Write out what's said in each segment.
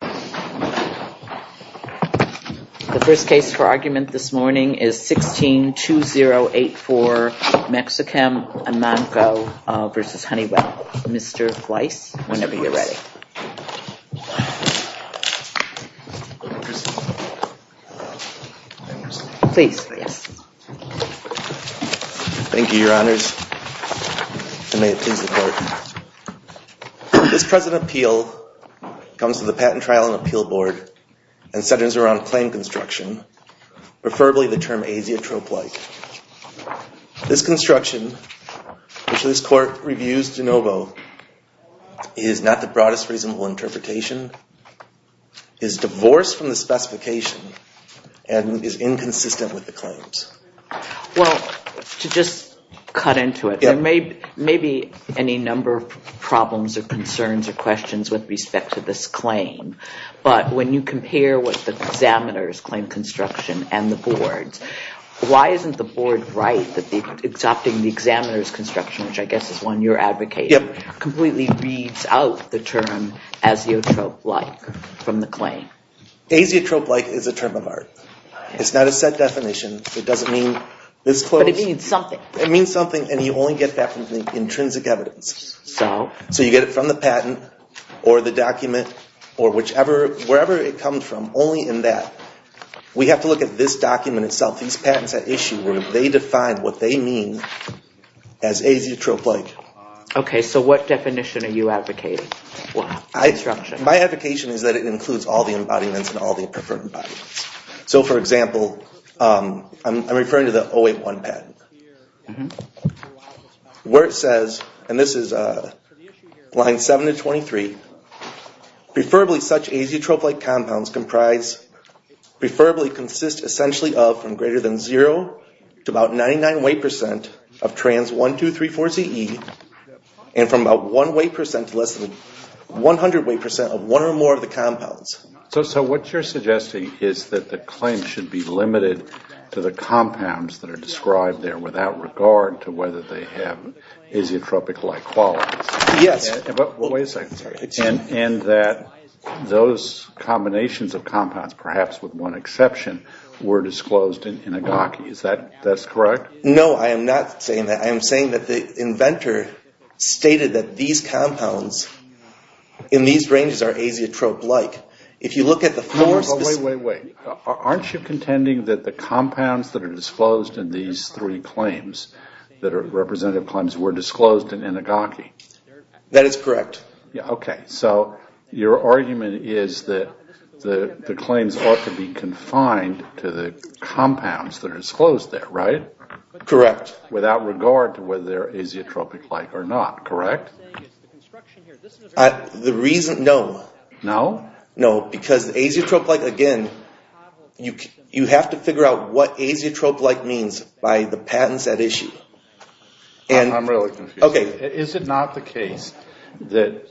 The first case for argument this morning is 16-2084 Mexichem Amanco v. Honeywell. Mr. Weiss, whenever you're ready. Thank you, Your Honors. May it please the Court. This present appeal comes to the Patent Trial and Appeal Board and centers around claim construction, preferably the term asiatrope-like. This construction, which this Court reviews de novo, is not the broadest reasonable interpretation, is divorced from the specification, and is inconsistent with the claims. Well, to just cut into it, there may be any number of problems or concerns or questions with respect to this claim, but when you compare with the examiner's claim construction and the board's, why isn't the board right that adopting the examiner's construction, which I guess is one you're advocating, completely reads out the term asiatrope-like from the claim? Asiatrope-like is a term of art. It's not a set definition. It doesn't mean this close. But it means something. It means something, and you only get that from the intrinsic evidence. So? So you get it from the patent or the document or whichever, wherever it comes from, only in that. We have to look at this document itself, these patents at issue, where they define what they mean as asiatrope-like. Okay, so what definition are you advocating? My advocation is that it includes all the embodiments and all the preferred embodiments. So, for example, I'm referring to the 081 patent, where it says, and this is line 7 to 23, So what you're suggesting is that the claim should be limited to the compounds that are described there without regard to whether they have asiotrope-like qualities? Yes. Wait a second. And that those combinations of compounds, perhaps with one exception, were disclosed in Inagaki. Is that correct? No, I am not saying that. I am saying that the inventor stated that these compounds in these ranges are asiatrope-like. If you look at the four specific… Wait, wait, wait. Aren't you contending that the compounds that are disclosed in these three claims, that are representative claims, were disclosed in Inagaki? That is correct. Okay, so your argument is that the claims ought to be confined to the compounds that are disclosed there, right? Correct. Without regard to whether they're asiotrope-like or not, correct? The reason, no. No, because asiotrope-like, again, you have to figure out what asiotrope-like means by the patents at issue. I'm really confused. Okay. Is it not the case that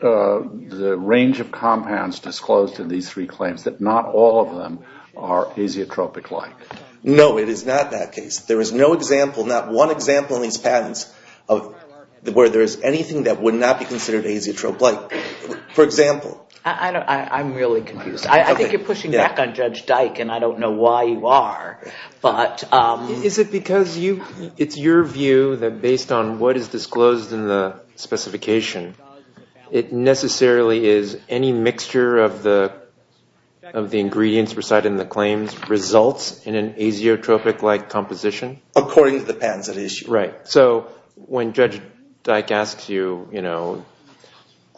the range of compounds disclosed in these three claims, that not all of them are asiotrope-like? No, it is not that case. There is no example, not one example in these patents where there is anything that would not be considered asiotrope-like. For example… I'm really confused. I think you're pushing back on Judge Dyke, and I don't know why you are, but… Is it because it's your view that based on what is disclosed in the specification, it necessarily is any mixture of the ingredients recited in the claims results in an asiotrope-like composition? According to the patents at issue. Right. So when Judge Dyke asks you, you know,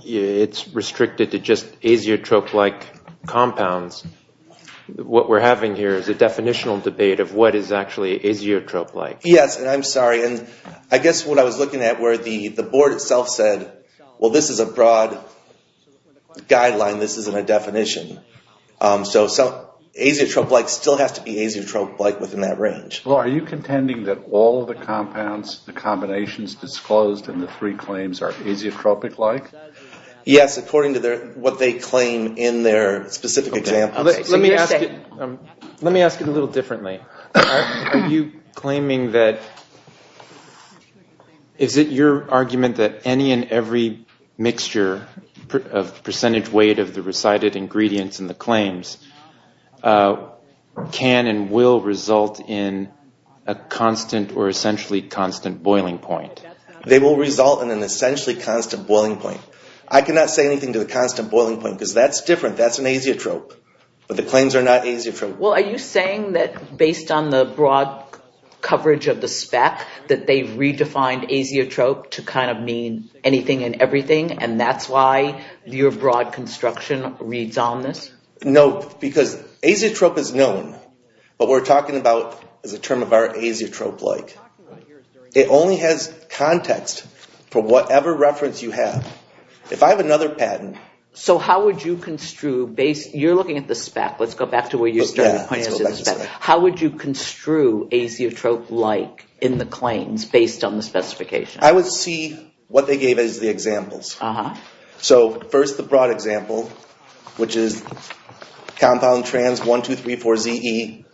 it's restricted to just asiotrope-like compounds, what we're having here is a definitional debate of what is actually asiotrope-like. Yes, and I'm sorry, and I guess what I was looking at where the board itself said, well, this is a broad guideline, this isn't a definition. So asiotrope-like still has to be asiotrope-like within that range. Well, are you contending that all of the compounds, the combinations disclosed in the three claims are asiotrope-like? Yes, according to what they claim in their specific examples. Let me ask it a little differently. Are you claiming that, is it your argument that any and every mixture of percentage weight of the recited ingredients in the claims can and will result in a constant or essentially constant boiling point? They will result in an essentially constant boiling point. I cannot say anything to the constant boiling point because that's different, that's an asiotrope. But the claims are not asiotrope-like. Well, are you saying that based on the broad coverage of the spec, that they've redefined asiotrope to kind of mean anything and everything, and that's why your broad construction reads on this? No, because asiotrope is known. What we're talking about is a term of our asiotrope-like. It only has context for whatever reference you have. If I have another patent. So how would you construe, you're looking at the spec, let's go back to where you started. How would you construe asiotrope-like in the claims based on the specification? I would see what they gave as the examples. So first the broad example, which is compound trans 1, 2, 3, 4, Z, E,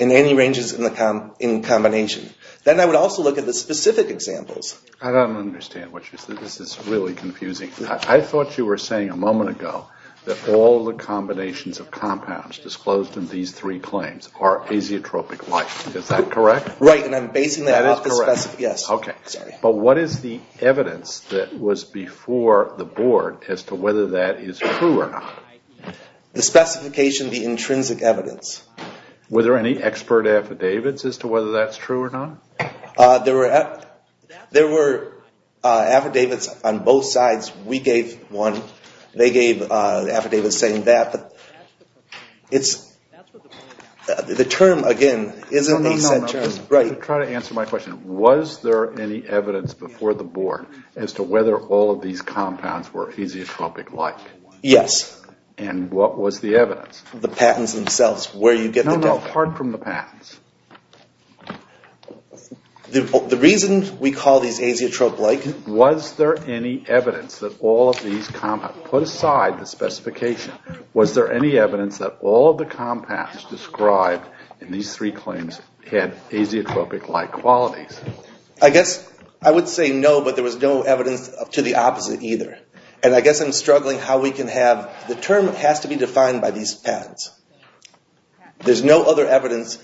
and any ranges in combination. Then I would also look at the specific examples. I don't understand what you're saying. This is really confusing. I thought you were saying a moment ago that all the combinations of compounds disclosed in these three claims are asiotropic-like. Is that correct? Right, and I'm basing that off the spec. But what is the evidence that was before the board as to whether that is true or not? The specification, the intrinsic evidence. Were there any expert affidavits as to whether that's true or not? There were affidavits on both sides. We gave one. They gave affidavits saying that. The term, again, isn't a set term. I'm trying to answer my question. Was there any evidence before the board as to whether all of these compounds were asiotropic-like? Yes. And what was the evidence? The patents themselves, where you get the data. No, no, apart from the patents. The reason we call these asiotrope-like... Was there any evidence that all of these compounds, put aside the specification, was there any evidence that all of the compounds described in these three claims had asiotropic-like qualities? I guess I would say no, but there was no evidence to the opposite either. And I guess I'm struggling how we can have... The term has to be defined by these patents. There's no other evidence.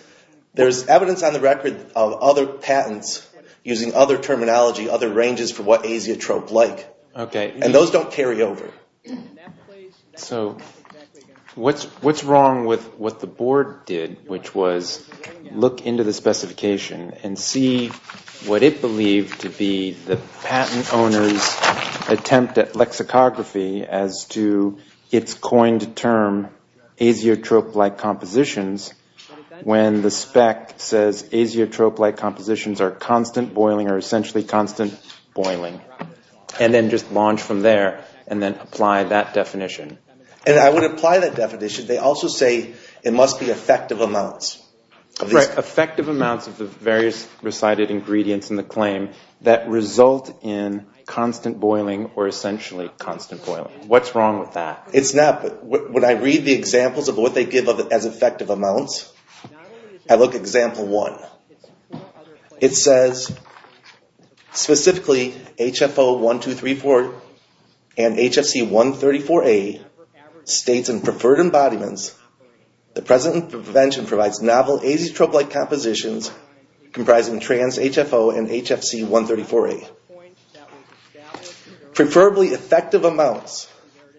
There's evidence on the record of other patents using other terminology, other ranges for what asiotrope-like. Okay. And those don't carry over. So what's wrong with what the board did, which was look into the specification and see what it believed to be the patent owner's attempt at lexicography as to its coined term, asiotrope-like compositions, when the spec says asiotrope-like compositions are constant boiling or essentially constant boiling, and then just launch from there and then apply that definition? And I would apply that definition. They also say it must be effective amounts. Effective amounts of the various recited ingredients in the claim that result in constant boiling or essentially constant boiling. What's wrong with that? It's not. When I read the examples of what they give as effective amounts, I look at example one. It says, specifically, HFO-1234 and HFC-134a states in preferred embodiments the present intervention provides novel asiotrope-like compositions comprising trans-HFO and HFC-134a. Preferably effective amounts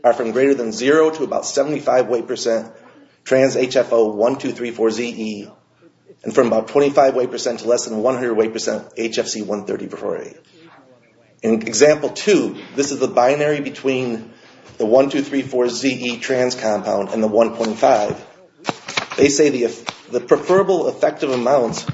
are from greater than zero to about 75 weight percent trans-HFO-1234-ZE and from about 25 weight percent to less than 100 weight percent HFC-134a. In example two, this is the binary between the 1234-ZE trans compound and the 1.5. They say the preferable effective amounts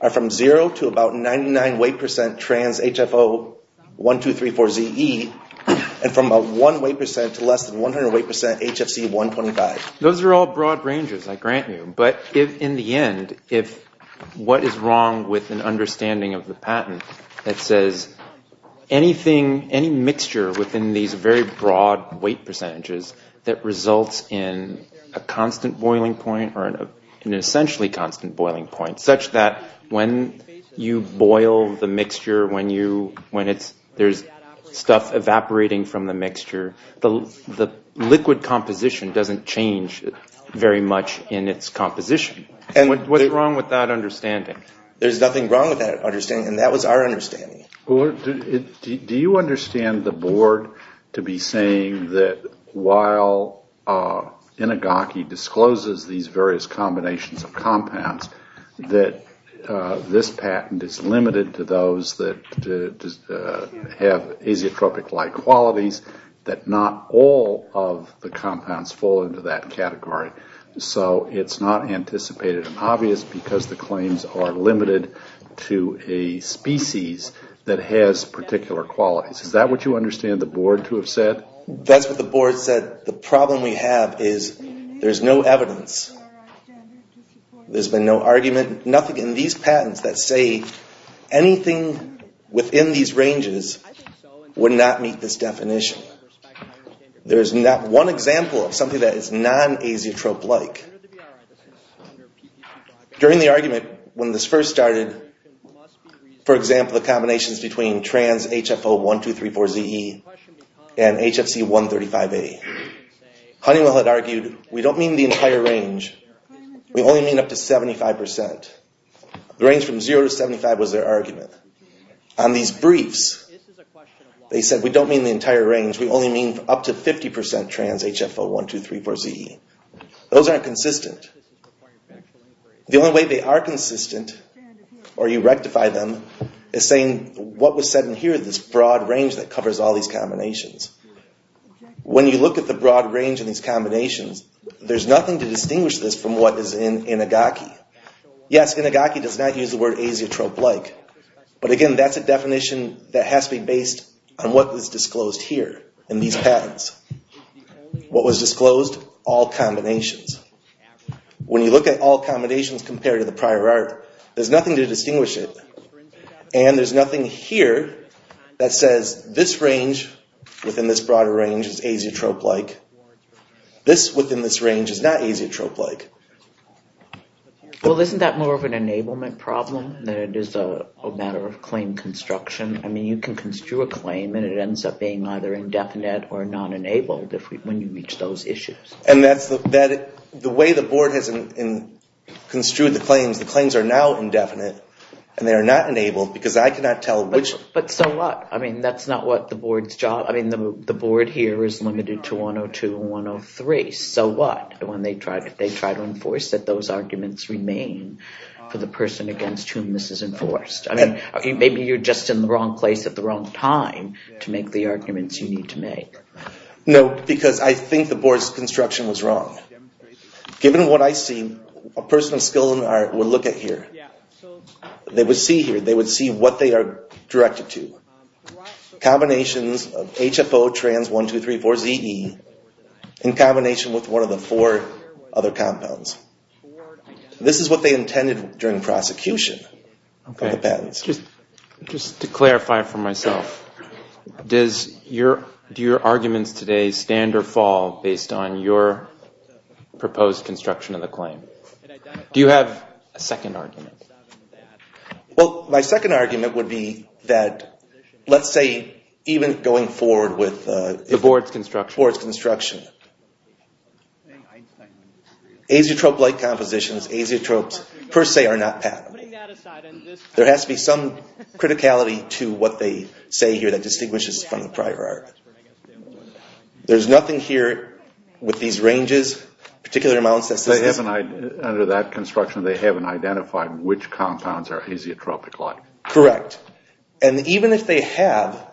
are from zero to about 99 weight percent trans-HFO-1234-ZE and from about one weight percent to less than 100 weight percent HFC-125. Those are all broad ranges, I grant you. But in the end, what is wrong with an understanding of the patent that says anything, any mixture within these very broad weight percentages that results in a constant boiling point or an essentially constant boiling point such that when you boil the mixture, when there's stuff evaporating from the mixture, the liquid composition doesn't change very much in its composition. What's wrong with that understanding? There's nothing wrong with that understanding, and that was our understanding. Do you understand the board to be saying that while Inegaki discloses these various combinations of compounds, that this patent is limited to those that have azeotropic-like qualities, that not all of the compounds fall into that category? So it's not anticipated and obvious because the claims are limited to a species that has particular qualities. Is that what you understand the board to have said? That's what the board said. The problem we have is there's no evidence. There's been no argument. Nothing in these patents that say anything within these ranges would not meet this definition. There's not one example of something that is non-azeotrope-like. During the argument when this first started, for example, the combinations between trans-HFO-1234-ZE and HFC-135A, Honeywell had argued, we don't mean the entire range. We only mean up to 75%. The range from zero to 75% was their argument. On these briefs, they said we don't mean the entire range. We only mean up to 50% trans-HFO-1234-ZE. Those aren't consistent. The only way they are consistent, or you rectify them, is saying what was said in here, this broad range that covers all these combinations. When you look at the broad range in these combinations, there's nothing to distinguish this from what is in Inigaki. Yes, Inigaki does not use the word azeotrope-like. But again, that's a definition that has to be based on what was disclosed here in these patents. What was disclosed? All combinations. When you look at all combinations compared to the prior art, there's nothing to distinguish it. And there's nothing here that says this range within this broader range is azeotrope-like. This within this range is not azeotrope-like. Well, isn't that more of an enablement problem than it is a matter of claim construction? I mean, you can construe a claim, and it ends up being either indefinite or non-enabled when you reach those issues. The way the board has construed the claims, the claims are now indefinite, and they are not enabled because I cannot tell which – But so what? I mean, that's not what the board's job – I mean, the board here is limited to 102 and 103. So what if they try to enforce that those arguments remain for the person against whom this is enforced? I mean, maybe you're just in the wrong place at the wrong time to make the arguments you need to make. No, because I think the board's construction was wrong. Given what I see, a person of skill and art would look at here. They would see here, they would see what they are directed to. Combinations of HFO trans-1234-ZE in combination with one of the four other compounds. This is what they intended during prosecution of the patents. Just to clarify for myself, do your arguments today stand or fall based on your proposed construction of the claim? Do you have a second argument? Well, my second argument would be that let's say even going forward with – The board's construction. The board's construction. Azeotrope-like compositions, azeotropes per se are not patentable. There has to be some criticality to what they say here that distinguishes from the prior art. There's nothing here with these ranges, particular amounts. Under that construction, they haven't identified which compounds are azeotropic-like. Correct. And even if they have,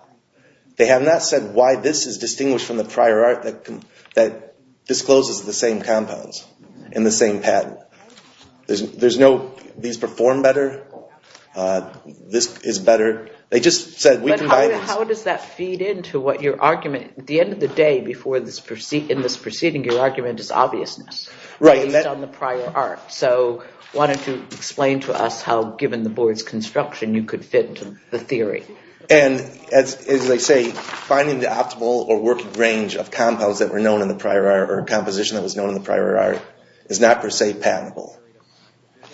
they have not said why this is distinguished from the prior art that discloses the same compounds and the same patent. These perform better. This is better. They just said we can buy these. But how does that feed into what your argument – At the end of the day, in this proceeding, your argument is obviousness. Right. Based on the prior art. So why don't you explain to us how, given the board's construction, you could fit into the theory. And as they say, finding the optimal or working range of compounds that were known in the prior art or composition that was known in the prior art is not per se patentable.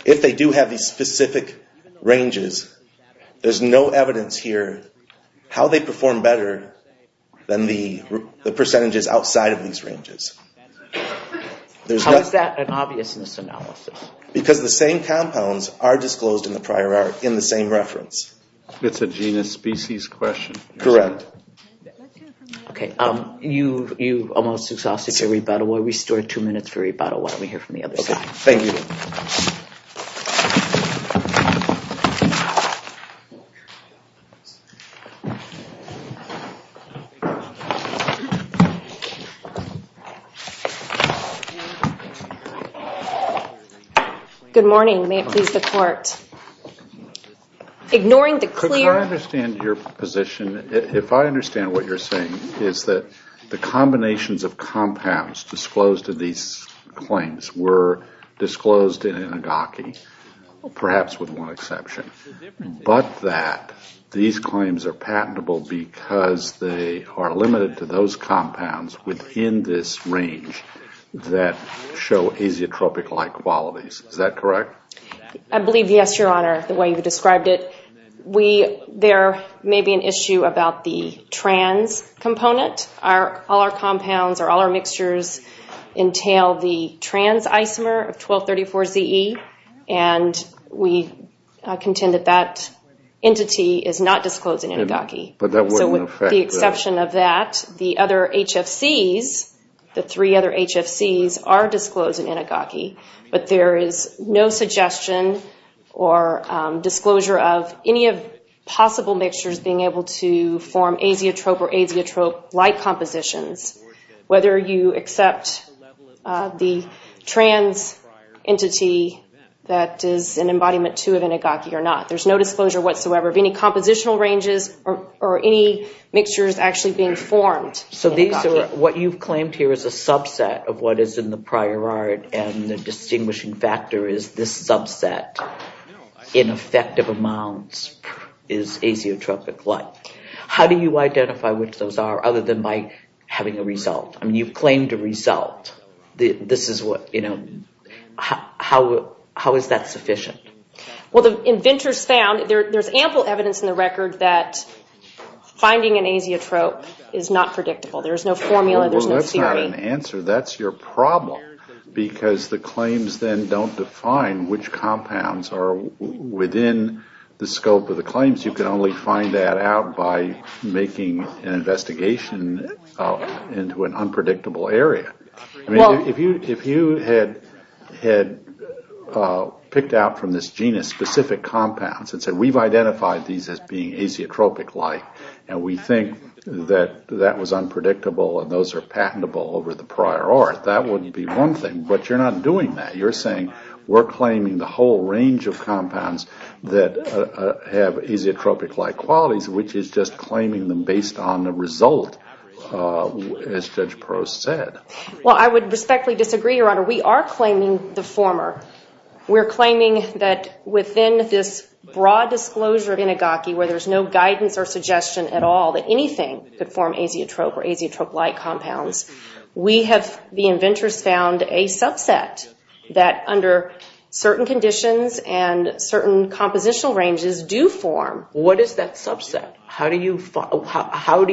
If they do have these specific ranges, there's no evidence here how they perform better than the percentages outside of these ranges. How is that an obviousness analysis? Because the same compounds are disclosed in the prior art in the same reference. It's a genus species question. Correct. Okay. You almost exhausted your rebuttal. We'll restore two minutes for rebuttal while we hear from the other side. Good morning. May it please the court. Ignoring the clear – Could I understand your position? If I understand what you're saying, it's that the combinations of compounds disclosed in these claims were disclosed in an agaki, perhaps with one exception. But that these claims are patentable because they are limited to those compounds within this range that show azeotropic-like qualities. Is that correct? I believe yes, Your Honor, the way you described it. There may be an issue about the trans component. All our compounds or all our mixtures entail the trans isomer of 1234ZE, and we contend that that entity is not disclosed in an agaki. But that wouldn't affect – or disclosure of any possible mixtures being able to form azeotrope or azeotrope-like compositions, whether you accept the trans entity that is an embodiment, too, of an agaki or not. There's no disclosure whatsoever of any compositional ranges or any mixtures actually being formed in an agaki. So what you've claimed here is a subset of what is in the prior art, and the distinguishing factor is this subset in effective amounts is azeotropic-like. How do you identify which those are other than by having a result? I mean, you've claimed a result. This is what – how is that sufficient? Well, the inventors found – there's ample evidence in the record that finding an azeotrope is not predictable. There's no formula. There's no theory. Well, that's not an answer. That's your problem, because the claims then don't define which compounds are within the scope of the claims. You can only find that out by making an investigation into an unpredictable area. I mean, if you had picked out from this genus specific compounds and said we've identified these as being azeotropic-like, and we think that that was unpredictable and those are patentable over the prior art, that wouldn't be one thing. But you're not doing that. You're saying we're claiming the whole range of compounds that have azeotropic-like qualities, which is just claiming them based on the result, as Judge Perot said. Well, I would respectfully disagree, Your Honor. We are claiming the former. We're claiming that within this broad disclosure of inagaki, where there's no guidance or suggestion at all that anything could form azeotrope or azeotrope-like compounds, we have – the inventors found a subset that under certain conditions and certain compositional ranges do form. What is that subset? How do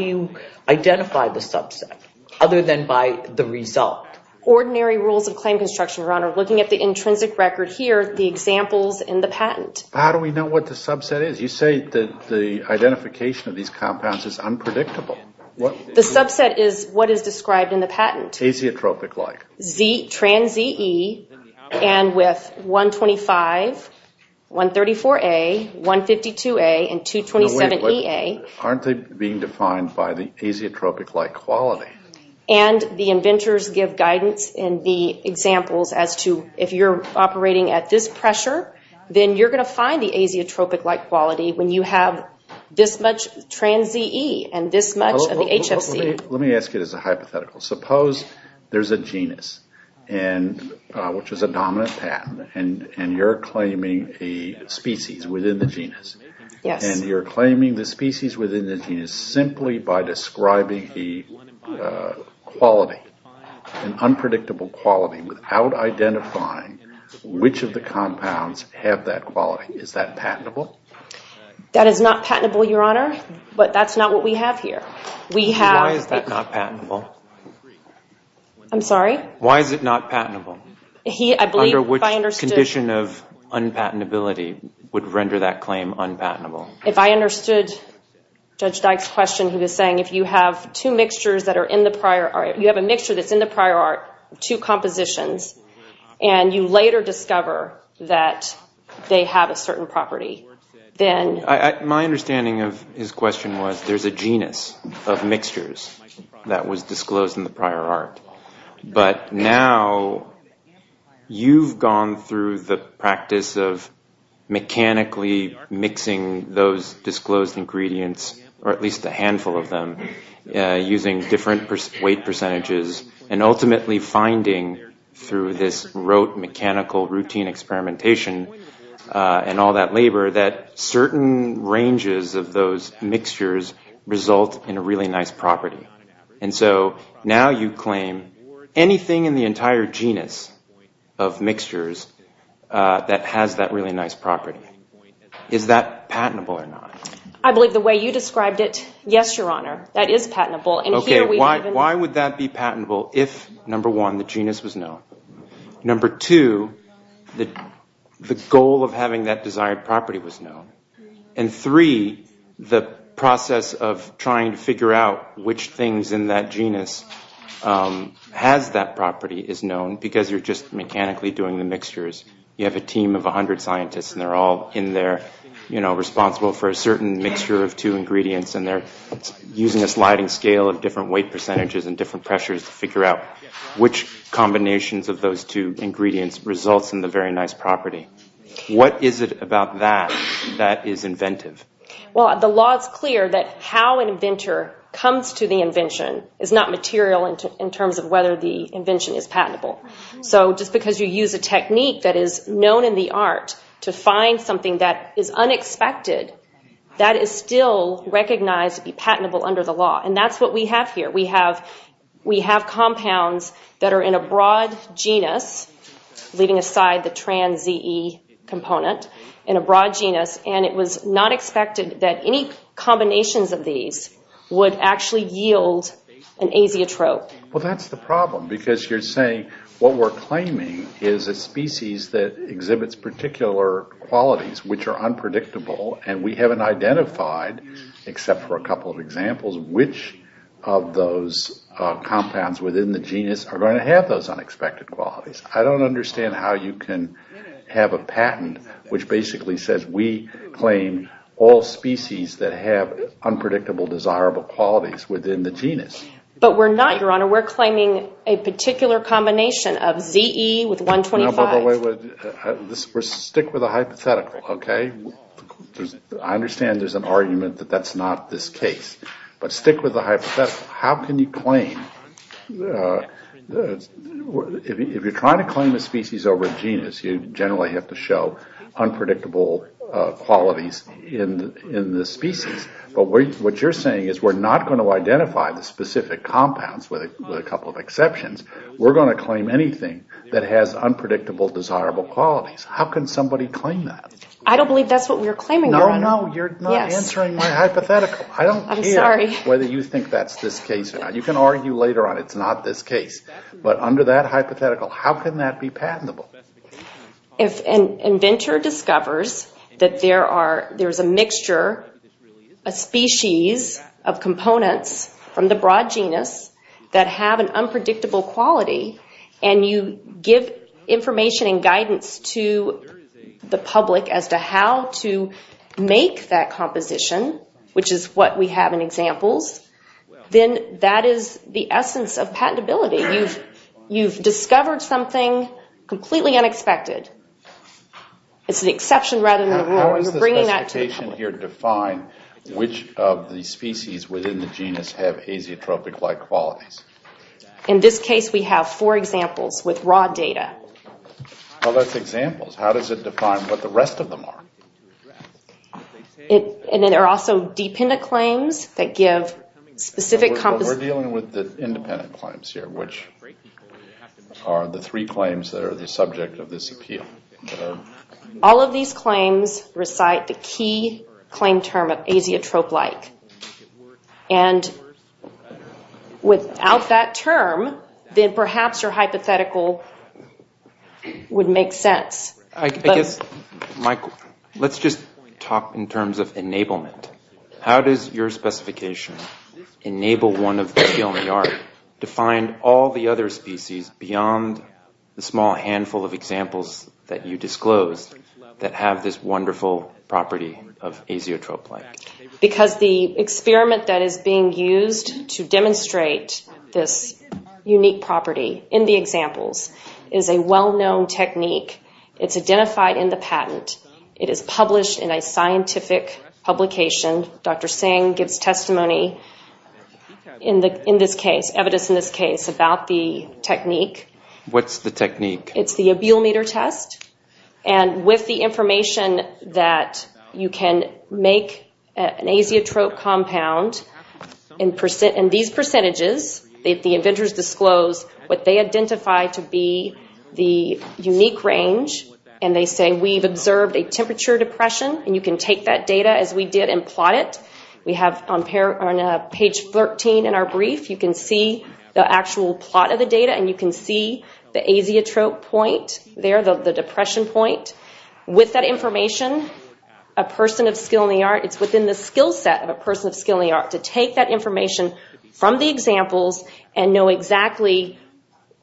you identify the subset other than by the result? Ordinary rules of claim construction, Your Honor. Looking at the intrinsic record here, the examples in the patent. How do we know what the subset is? You say that the identification of these compounds is unpredictable. The subset is what is described in the patent. Azeotropic-like. Trans-ZE and with 125, 134A, 152A, and 227EA. Aren't they being defined by the azeotropic-like quality? And the inventors give guidance in the examples as to if you're operating at this pressure, then you're going to find the azeotropic-like quality when you have this much trans-ZE and this much of the HFC. Let me ask it as a hypothetical. Suppose there's a genus, which is a dominant patent, and you're claiming a species within the genus. Yes. And you're claiming the species within the genus simply by describing the quality, an unpredictable quality without identifying which of the compounds have that quality. Is that patentable? That is not patentable, Your Honor, but that's not what we have here. Why is that not patentable? I'm sorry? Why is it not patentable? Under which condition of unpatentability would render that claim unpatentable? If I understood Judge Dyke's question, he was saying, if you have a mixture that's in the prior art, two compositions, and you later discover that they have a certain property, then... My understanding of his question was there's a genus of mixtures that was disclosed in the prior art. But now you've gone through the practice of mechanically mixing those disclosed ingredients, or at least a handful of them, using different weight percentages, and ultimately finding through this rote mechanical routine experimentation and all that labor that certain ranges of those mixtures result in a really nice property. And so now you claim anything in the entire genus of mixtures that has that really nice property. Is that patentable or not? I believe the way you described it, yes, Your Honor, that is patentable. Why would that be patentable if, number one, the genus was known? Number two, the goal of having that desired property was known. And three, the process of trying to figure out which things in that genus has that property is known because you're just mechanically doing the mixtures. You have a team of 100 scientists, and they're all in there, you know, responsible for a certain mixture of two ingredients, and they're using a sliding scale of different weight percentages and different pressures to figure out which combinations of those two ingredients results in the very nice property. What is it about that that is inventive? Well, the law is clear that how an inventor comes to the invention is not material in terms of whether the invention is patentable. So just because you use a technique that is known in the art to find something that is unexpected, that is still recognized to be patentable under the law, and that's what we have here. We have compounds that are in a broad genus, leaving aside the trans-ZE component, in a broad genus, and it was not expected that any combinations of these would actually yield an azeotrope. Well, that's the problem because you're saying what we're claiming is a species that exhibits particular qualities which are unpredictable, and we haven't identified, except for a couple of examples, which of those compounds within the genus are going to have those unexpected qualities. I don't understand how you can have a patent which basically says we claim all species that have unpredictable, desirable qualities within the genus. But we're not, Your Honor. We're claiming a particular combination of ZE with 125. No, but wait. Stick with the hypothetical, okay? I understand there's an argument that that's not this case, but stick with the hypothetical. How can you claim, if you're trying to claim a species over a genus, you generally have to show unpredictable qualities in the species. But what you're saying is we're not going to identify the specific compounds with a couple of exceptions. We're going to claim anything that has unpredictable, desirable qualities. How can somebody claim that? I don't believe that's what we're claiming, Your Honor. No, no, you're not answering my hypothetical. I'm sorry. I don't care whether you think that's this case or not. You can argue later on it's not this case. But under that hypothetical, how can that be patentable? If an inventor discovers that there's a mixture, a species of components from the broad genus that have an unpredictable quality, and you give information and guidance to the public as to how to make that composition, which is what we have in examples, then that is the essence of patentability. You've discovered something completely unexpected. It's an exception rather than a probability. How does the specification here define which of the species within the genus have azeotropic-like qualities? In this case, we have four examples with raw data. Well, that's examples. How does it define what the rest of them are? And then there are also dependent claims that give specific... We're dealing with the independent claims here, which are the three claims that are the subject of this appeal. All of these claims recite the key claim term of azeotrope-like. And without that term, then perhaps your hypothetical would make sense. I guess, Michael, let's just talk in terms of enablement. How does your specification enable one of the TLNR to find all the other species beyond the small handful of examples that you disclosed that have this wonderful property of azeotrope-like? Because the experiment that is being used to demonstrate this unique property in the examples is a well-known technique. It's identified in the patent. It is published in a scientific publication. Dr. Singh gives testimony in this case, evidence in this case, about the technique. What's the technique? It's the appeal meter test. And with the information that you can make an azeotrope compound in these percentages, the inventors disclose what they identify to be the unique range, and they say, we've observed a temperature depression, and you can take that data as we did and plot it. We have on page 13 in our brief, you can see the actual plot of the data, and you can see the azeotrope point there, the depression point. With that information, a person of skill in the art, it's within the skill set of a person of skill in the art to take that information from the examples and know exactly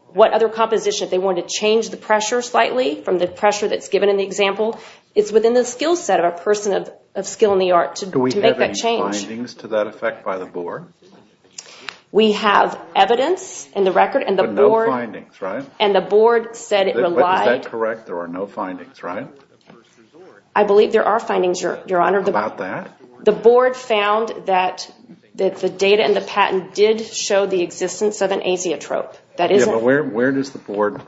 what other composition. If they want to change the pressure slightly from the pressure that's given in the example, it's within the skill set of a person of skill in the art to make that change. Do we have any findings to that effect by the board? We have evidence in the record, and the board said it relied. Is that correct, there are no findings, right? I believe there are findings, Your Honor. About that? The board found that the data in the patent did show the existence of an azeotrope. Yeah, but where does the board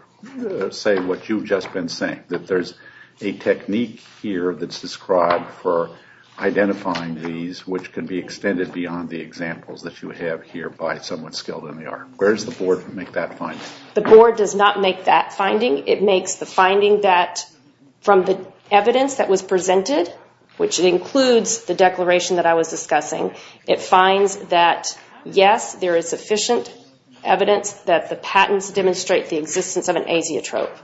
say what you've just been saying, that there's a technique here that's described for identifying these which can be extended beyond the examples that you have here by someone skilled in the art? Where does the board make that finding? The board does not make that finding. It makes the finding that from the evidence that was presented, which includes the declaration that I was discussing, it finds that, yes, there is sufficient evidence that the patents demonstrate the existence of an azeotrope.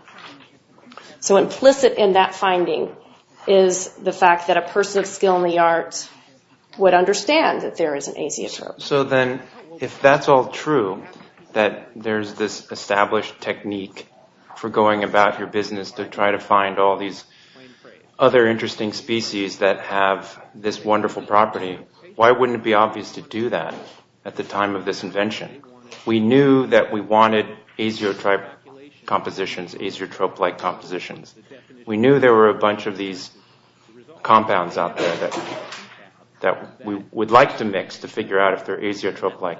So implicit in that finding is the fact that a person of skill in the art would understand that there is an azeotrope. So then if that's all true, that there's this established technique for going about your business to try to find all these other interesting species that have this wonderful property, why wouldn't it be obvious to do that at the time of this invention? We knew that we wanted azeotrope-like compositions. We knew there were a bunch of these compounds out there that we would like to mix to figure out if they're azeotrope-like.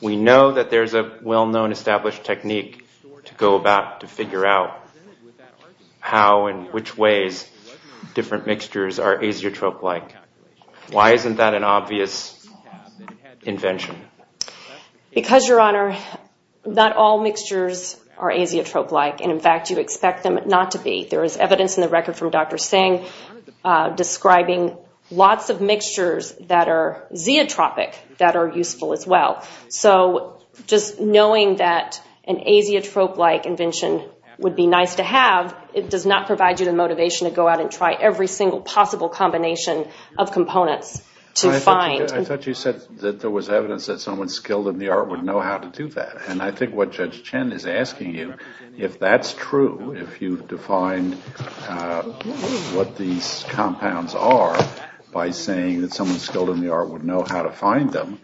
We know that there's a well-known established technique to go about to figure out how and which ways different mixtures are azeotrope-like. Why isn't that an obvious invention? Because, Your Honor, not all mixtures are azeotrope-like, and, in fact, you expect them not to be. There is evidence in the record from Dr. Singh describing lots of mixtures that are zeotropic that are useful as well. So just knowing that an azeotrope-like invention would be nice to have, it does not provide you the motivation to go out and try every single possible combination of components to find. I thought you said that there was evidence that someone skilled in the art would know how to do that. And I think what Judge Chen is asking you, if that's true, if you've defined what these compounds are by saying that someone skilled in the art would know how to find them,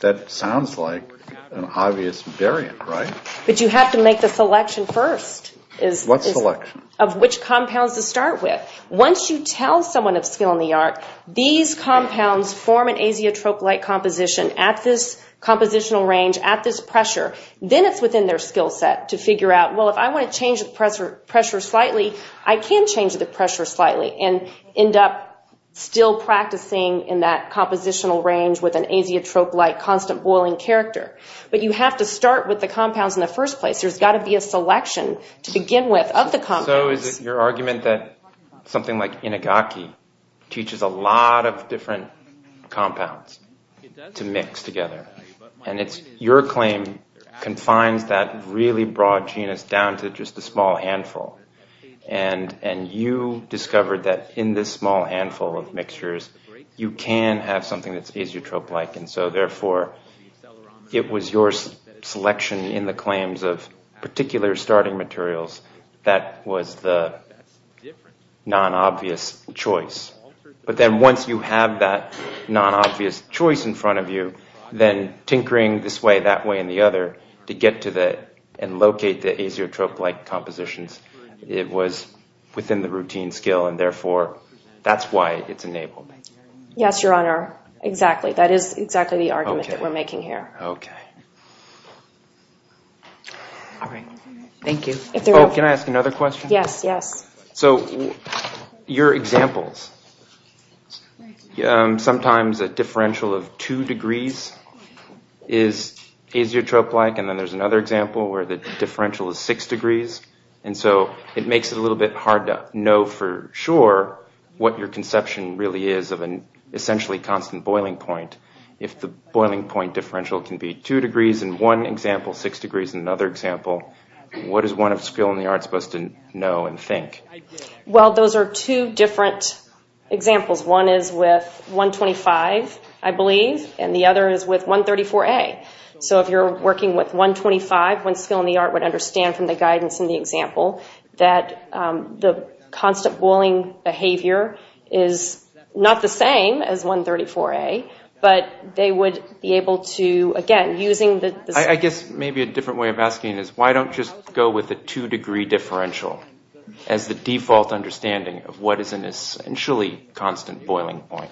that sounds like an obvious variant, right? But you have to make the selection first. What selection? Of which compounds to start with. Once you tell someone of skill in the art, these compounds form an azeotrope-like composition at this compositional range, at this pressure, then it's within their skill set to figure out, well, if I want to change the pressure slightly, I can change the pressure slightly and end up still practicing in that compositional range with an azeotrope-like constant boiling character. But you have to start with the compounds in the first place. There's got to be a selection to begin with of the compounds. So is it your argument that something like inagaki teaches a lot of different compounds to mix together? And it's your claim confines that really broad genus down to just a small handful. And you discovered that in this small handful of mixtures you can have something that's azeotrope-like, and so therefore it was your selection in the claims of particular starting materials that was the non-obvious choice. But then once you have that non-obvious choice in front of you, then tinkering this way, that way, and the other to get to and locate the azeotrope-like compositions, it was within the routine skill, and therefore that's why it's enabled. Yes, Your Honor, exactly. That is exactly the argument that we're making here. Okay. All right. Thank you. Oh, can I ask another question? Yes, yes. So your examples, sometimes a differential of two degrees is azeotrope-like, and then there's another example where the differential is six degrees, and so it makes it a little bit hard to know for sure what your conception really is of an essentially constant boiling point if the boiling point differential can be two degrees in one example, six degrees in another example. What is one of skill in the art supposed to know and think? Well, those are two different examples. One is with 125, I believe, and the other is with 134A. So if you're working with 125, one skill in the art would understand from the guidance in the example that the constant boiling behavior is not the same as 134A, but they would be able to, again, using the... I guess maybe a different way of asking is why don't you just go with a two-degree differential as the default understanding of what is an essentially constant boiling point?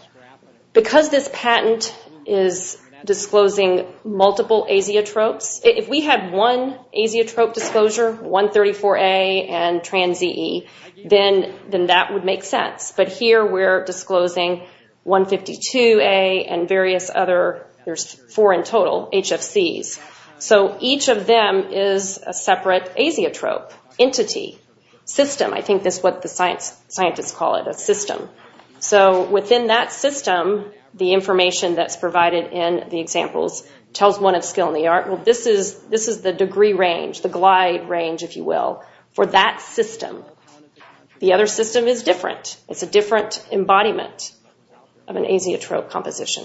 Because this patent is disclosing multiple azeotropes, if we had one azeotrope disclosure, 134A and trans-EE, then that would make sense. But here we're disclosing 152A and various other... There's four in total, HFCs. So each of them is a separate azeotrope, entity, system. I think that's what the scientists call it, a system. So within that system, the information that's provided in the examples tells one of skill in the art, well, this is the degree range, the glide range, if you will, for that system. The other system is different. It's a different embodiment of an azeotrope composition.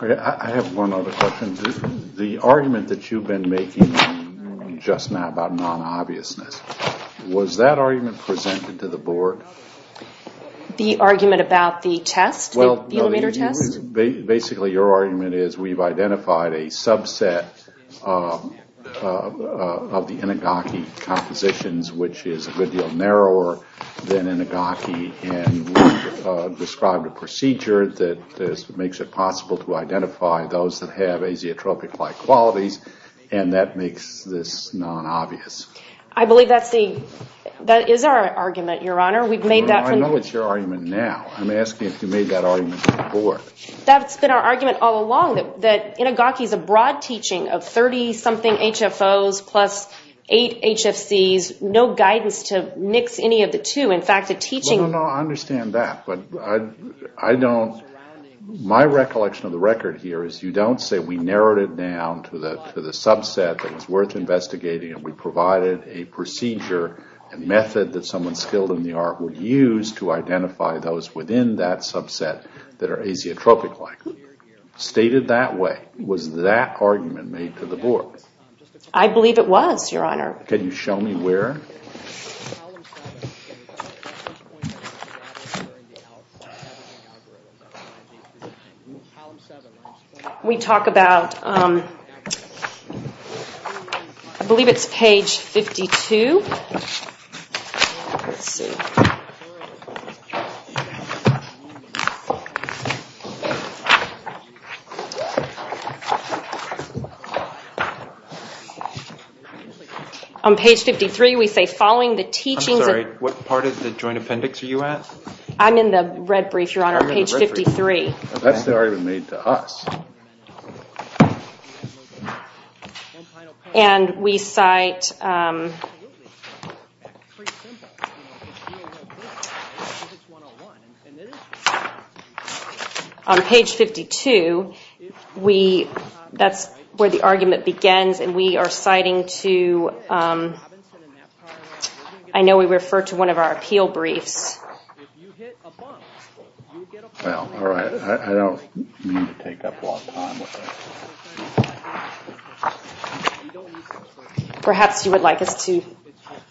I have one other question. The argument that you've been making just now about non-obviousness, was that argument presented to the board? The argument about the test, the millimeter test? Basically, your argument is we've identified a subset of the Inigaki compositions, which is a good deal narrower than Inigaki, and described a procedure that makes it possible to identify those that have azeotropic-like qualities, and that makes this non-obvious. I believe that is our argument, Your Honor. I know it's your argument now. I'm asking if you made that argument before. That's been our argument all along, that Inigaki is a broad teaching of 30-something HFOs plus eight HFCs, no guidance to mix any of the two. In fact, the teaching... No, no, no, I understand that, but I don't... My recollection of the record here is you don't say we narrowed it down to the subset that was worth investigating and we provided a procedure and method that someone skilled in the art would use to identify those within that subset that are azeotropic-like. Stated that way, was that argument made to the board? I believe it was, Your Honor. Can you show me where? Here. We talk about... I believe it's page 52. Let's see. On page 53, we say following the teachings... I'm sorry, what part of the joint appendix are you at? I'm in the red brief, Your Honor, page 53. That's the argument made to us. And we cite... On page 52, that's where the argument begins and we are citing to... I know we refer to one of our appeal briefs. Well, all right. I don't mean to take up a lot of time with that. Perhaps you would like us to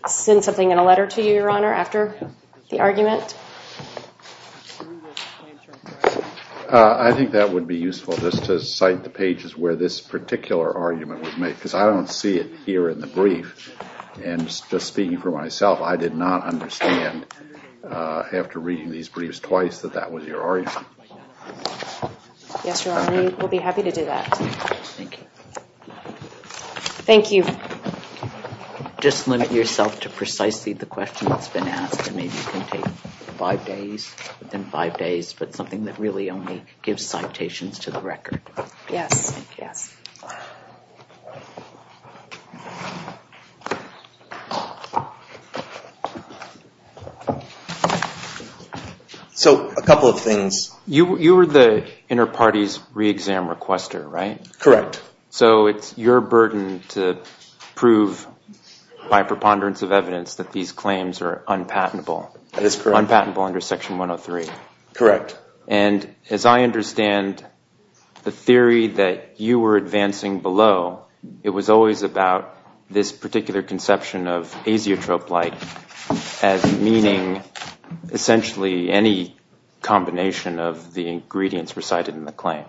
send something in a letter to you, Your Honor, after the argument? I think that would be useful, just to cite the pages where this particular argument was made, because I don't see it here in the brief. And just speaking for myself, I did not understand, after reading these briefs twice, that that was your argument. Yes, Your Honor, we'll be happy to do that. Thank you. Thank you. Just limit yourself to precisely the question that's been asked, and maybe you can take five days, within five days, but something that really only gives citations to the record. Yes, yes. So, a couple of things. You were the inner party's re-exam requester, right? Correct. So it's your burden to prove, by preponderance of evidence, that these claims are unpatentable. That is correct. Unpatentable under Section 103. Correct. And as I understand the theory that you were advancing below, it was always about this particular conception of azeotrope-like as meaning, essentially, any combination of the ingredients recited in the claim.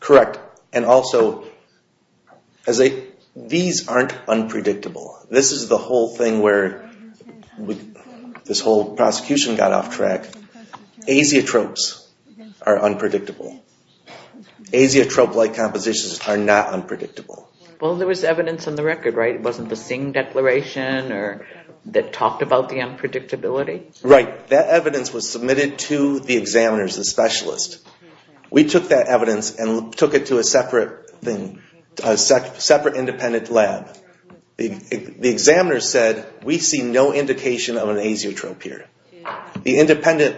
Correct. And also, these aren't unpredictable. This is the whole thing where this whole prosecution got off track. Azeotropes are unpredictable. Azeotrope-like compositions are not unpredictable. Well, there was evidence in the record, right? It wasn't the Singh Declaration that talked about the unpredictability? Right. That evidence was submitted to the examiners, the specialists. We took that evidence and took it to a separate independent lab. The examiners said, we see no indication of an azeotrope here. The independent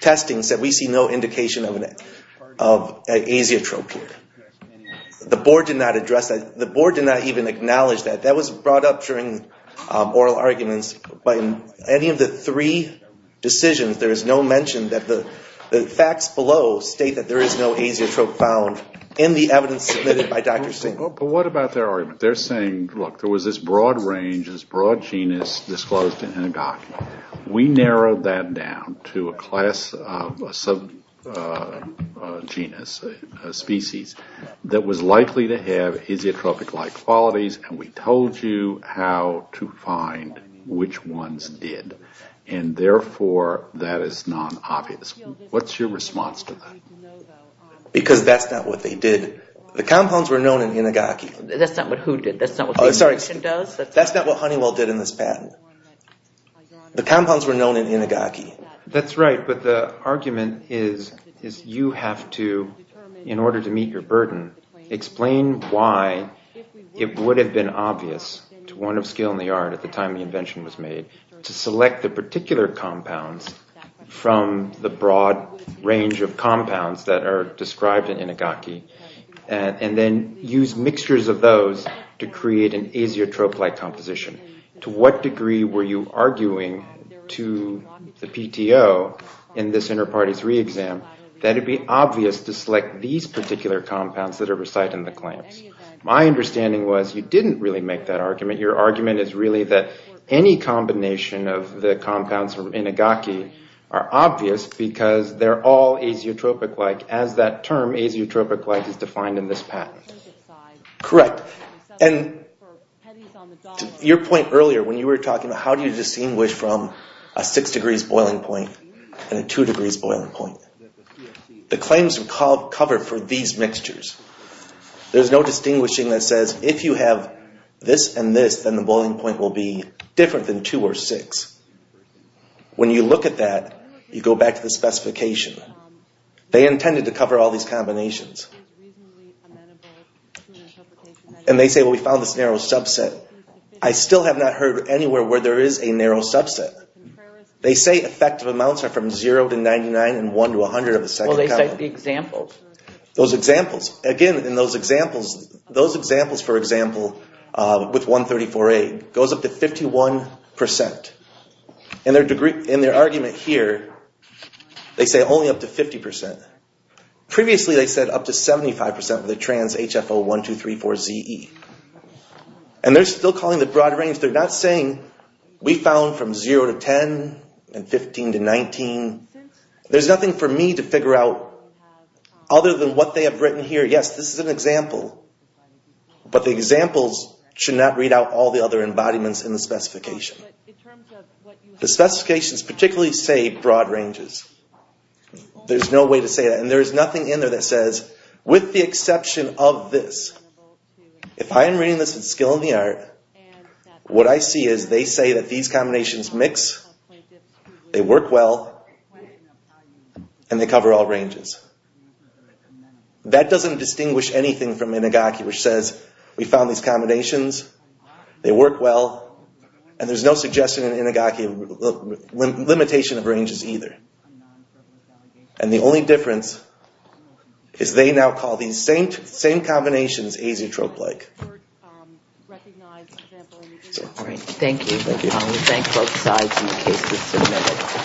testing said, we see no indication of an azeotrope here. The board did not address that. The board did not even acknowledge that. That was brought up during oral arguments, but in any of the three decisions, there is no mention that the facts below state that there is no azeotrope found in the evidence submitted by Dr. Singh. But what about their argument? They're saying, look, there was this broad range, this broad genus disclosed in Inigaki. We narrowed that down to a class of genus, species, that was likely to have azeotropic-like qualities, and we told you how to find which ones did. And therefore, that is non-obvious. What's your response to that? Because that's not what they did. The compounds were known in Inigaki. That's not what who did. That's not what the invention does. That's not what Honeywell did in this patent. The compounds were known in Inigaki. That's right, but the argument is you have to, in order to meet your burden, explain why it would have been obvious to one of skill in the art at the time the invention was made to select the particular compounds from the broad range of compounds that are described in Inigaki and then use mixtures of those to create an azeotrope-like composition. To what degree were you arguing to the PTO in this Interparty 3 exam that it would be obvious to select these particular compounds that are recited in the claims? My understanding was you didn't really make that argument. Your argument is really that any combination of the compounds from Inigaki are obvious because they're all azeotropic-like. As that term, azeotropic-like, is defined in this patent. Correct. And your point earlier when you were talking about how do you distinguish from a 6 degrees boiling point and a 2 degrees boiling point. The claims are covered for these mixtures. There's no distinguishing that says if you have this and this, then the boiling point will be different than 2 or 6. When you look at that, you go back to the specification. They intended to cover all these combinations. And they say, well, we found this narrow subset. I still have not heard anywhere where there is a narrow subset. They say effective amounts are from 0 to 99 and 1 to 100 of a second. Well, they cite the examples. Those examples. Again, in those examples, those examples, for example, with 134A, goes up to 51%. In their argument here, they say only up to 50%. Previously, they said up to 75% of the trans HFO1234ZE. And they're still calling the broad range. They're not saying we found from 0 to 10 and 15 to 19. There's nothing for me to figure out other than what they have written here. Yes, this is an example. But the examples should not read out all the other embodiments in the specification. The specifications particularly say broad ranges. There's no way to say that. And there is nothing in there that says, with the exception of this. If I am reading this with skill in the art, what I see is they say that these combinations mix, they work well, and they cover all ranges. That doesn't distinguish anything from Inagaki, which says we found these combinations, they work well, and there's no suggestion in Inagaki of limitation of ranges either. And the only difference is they now call these same combinations azeotrope-like. All right. Thank you. We thank both sides. The case is submitted.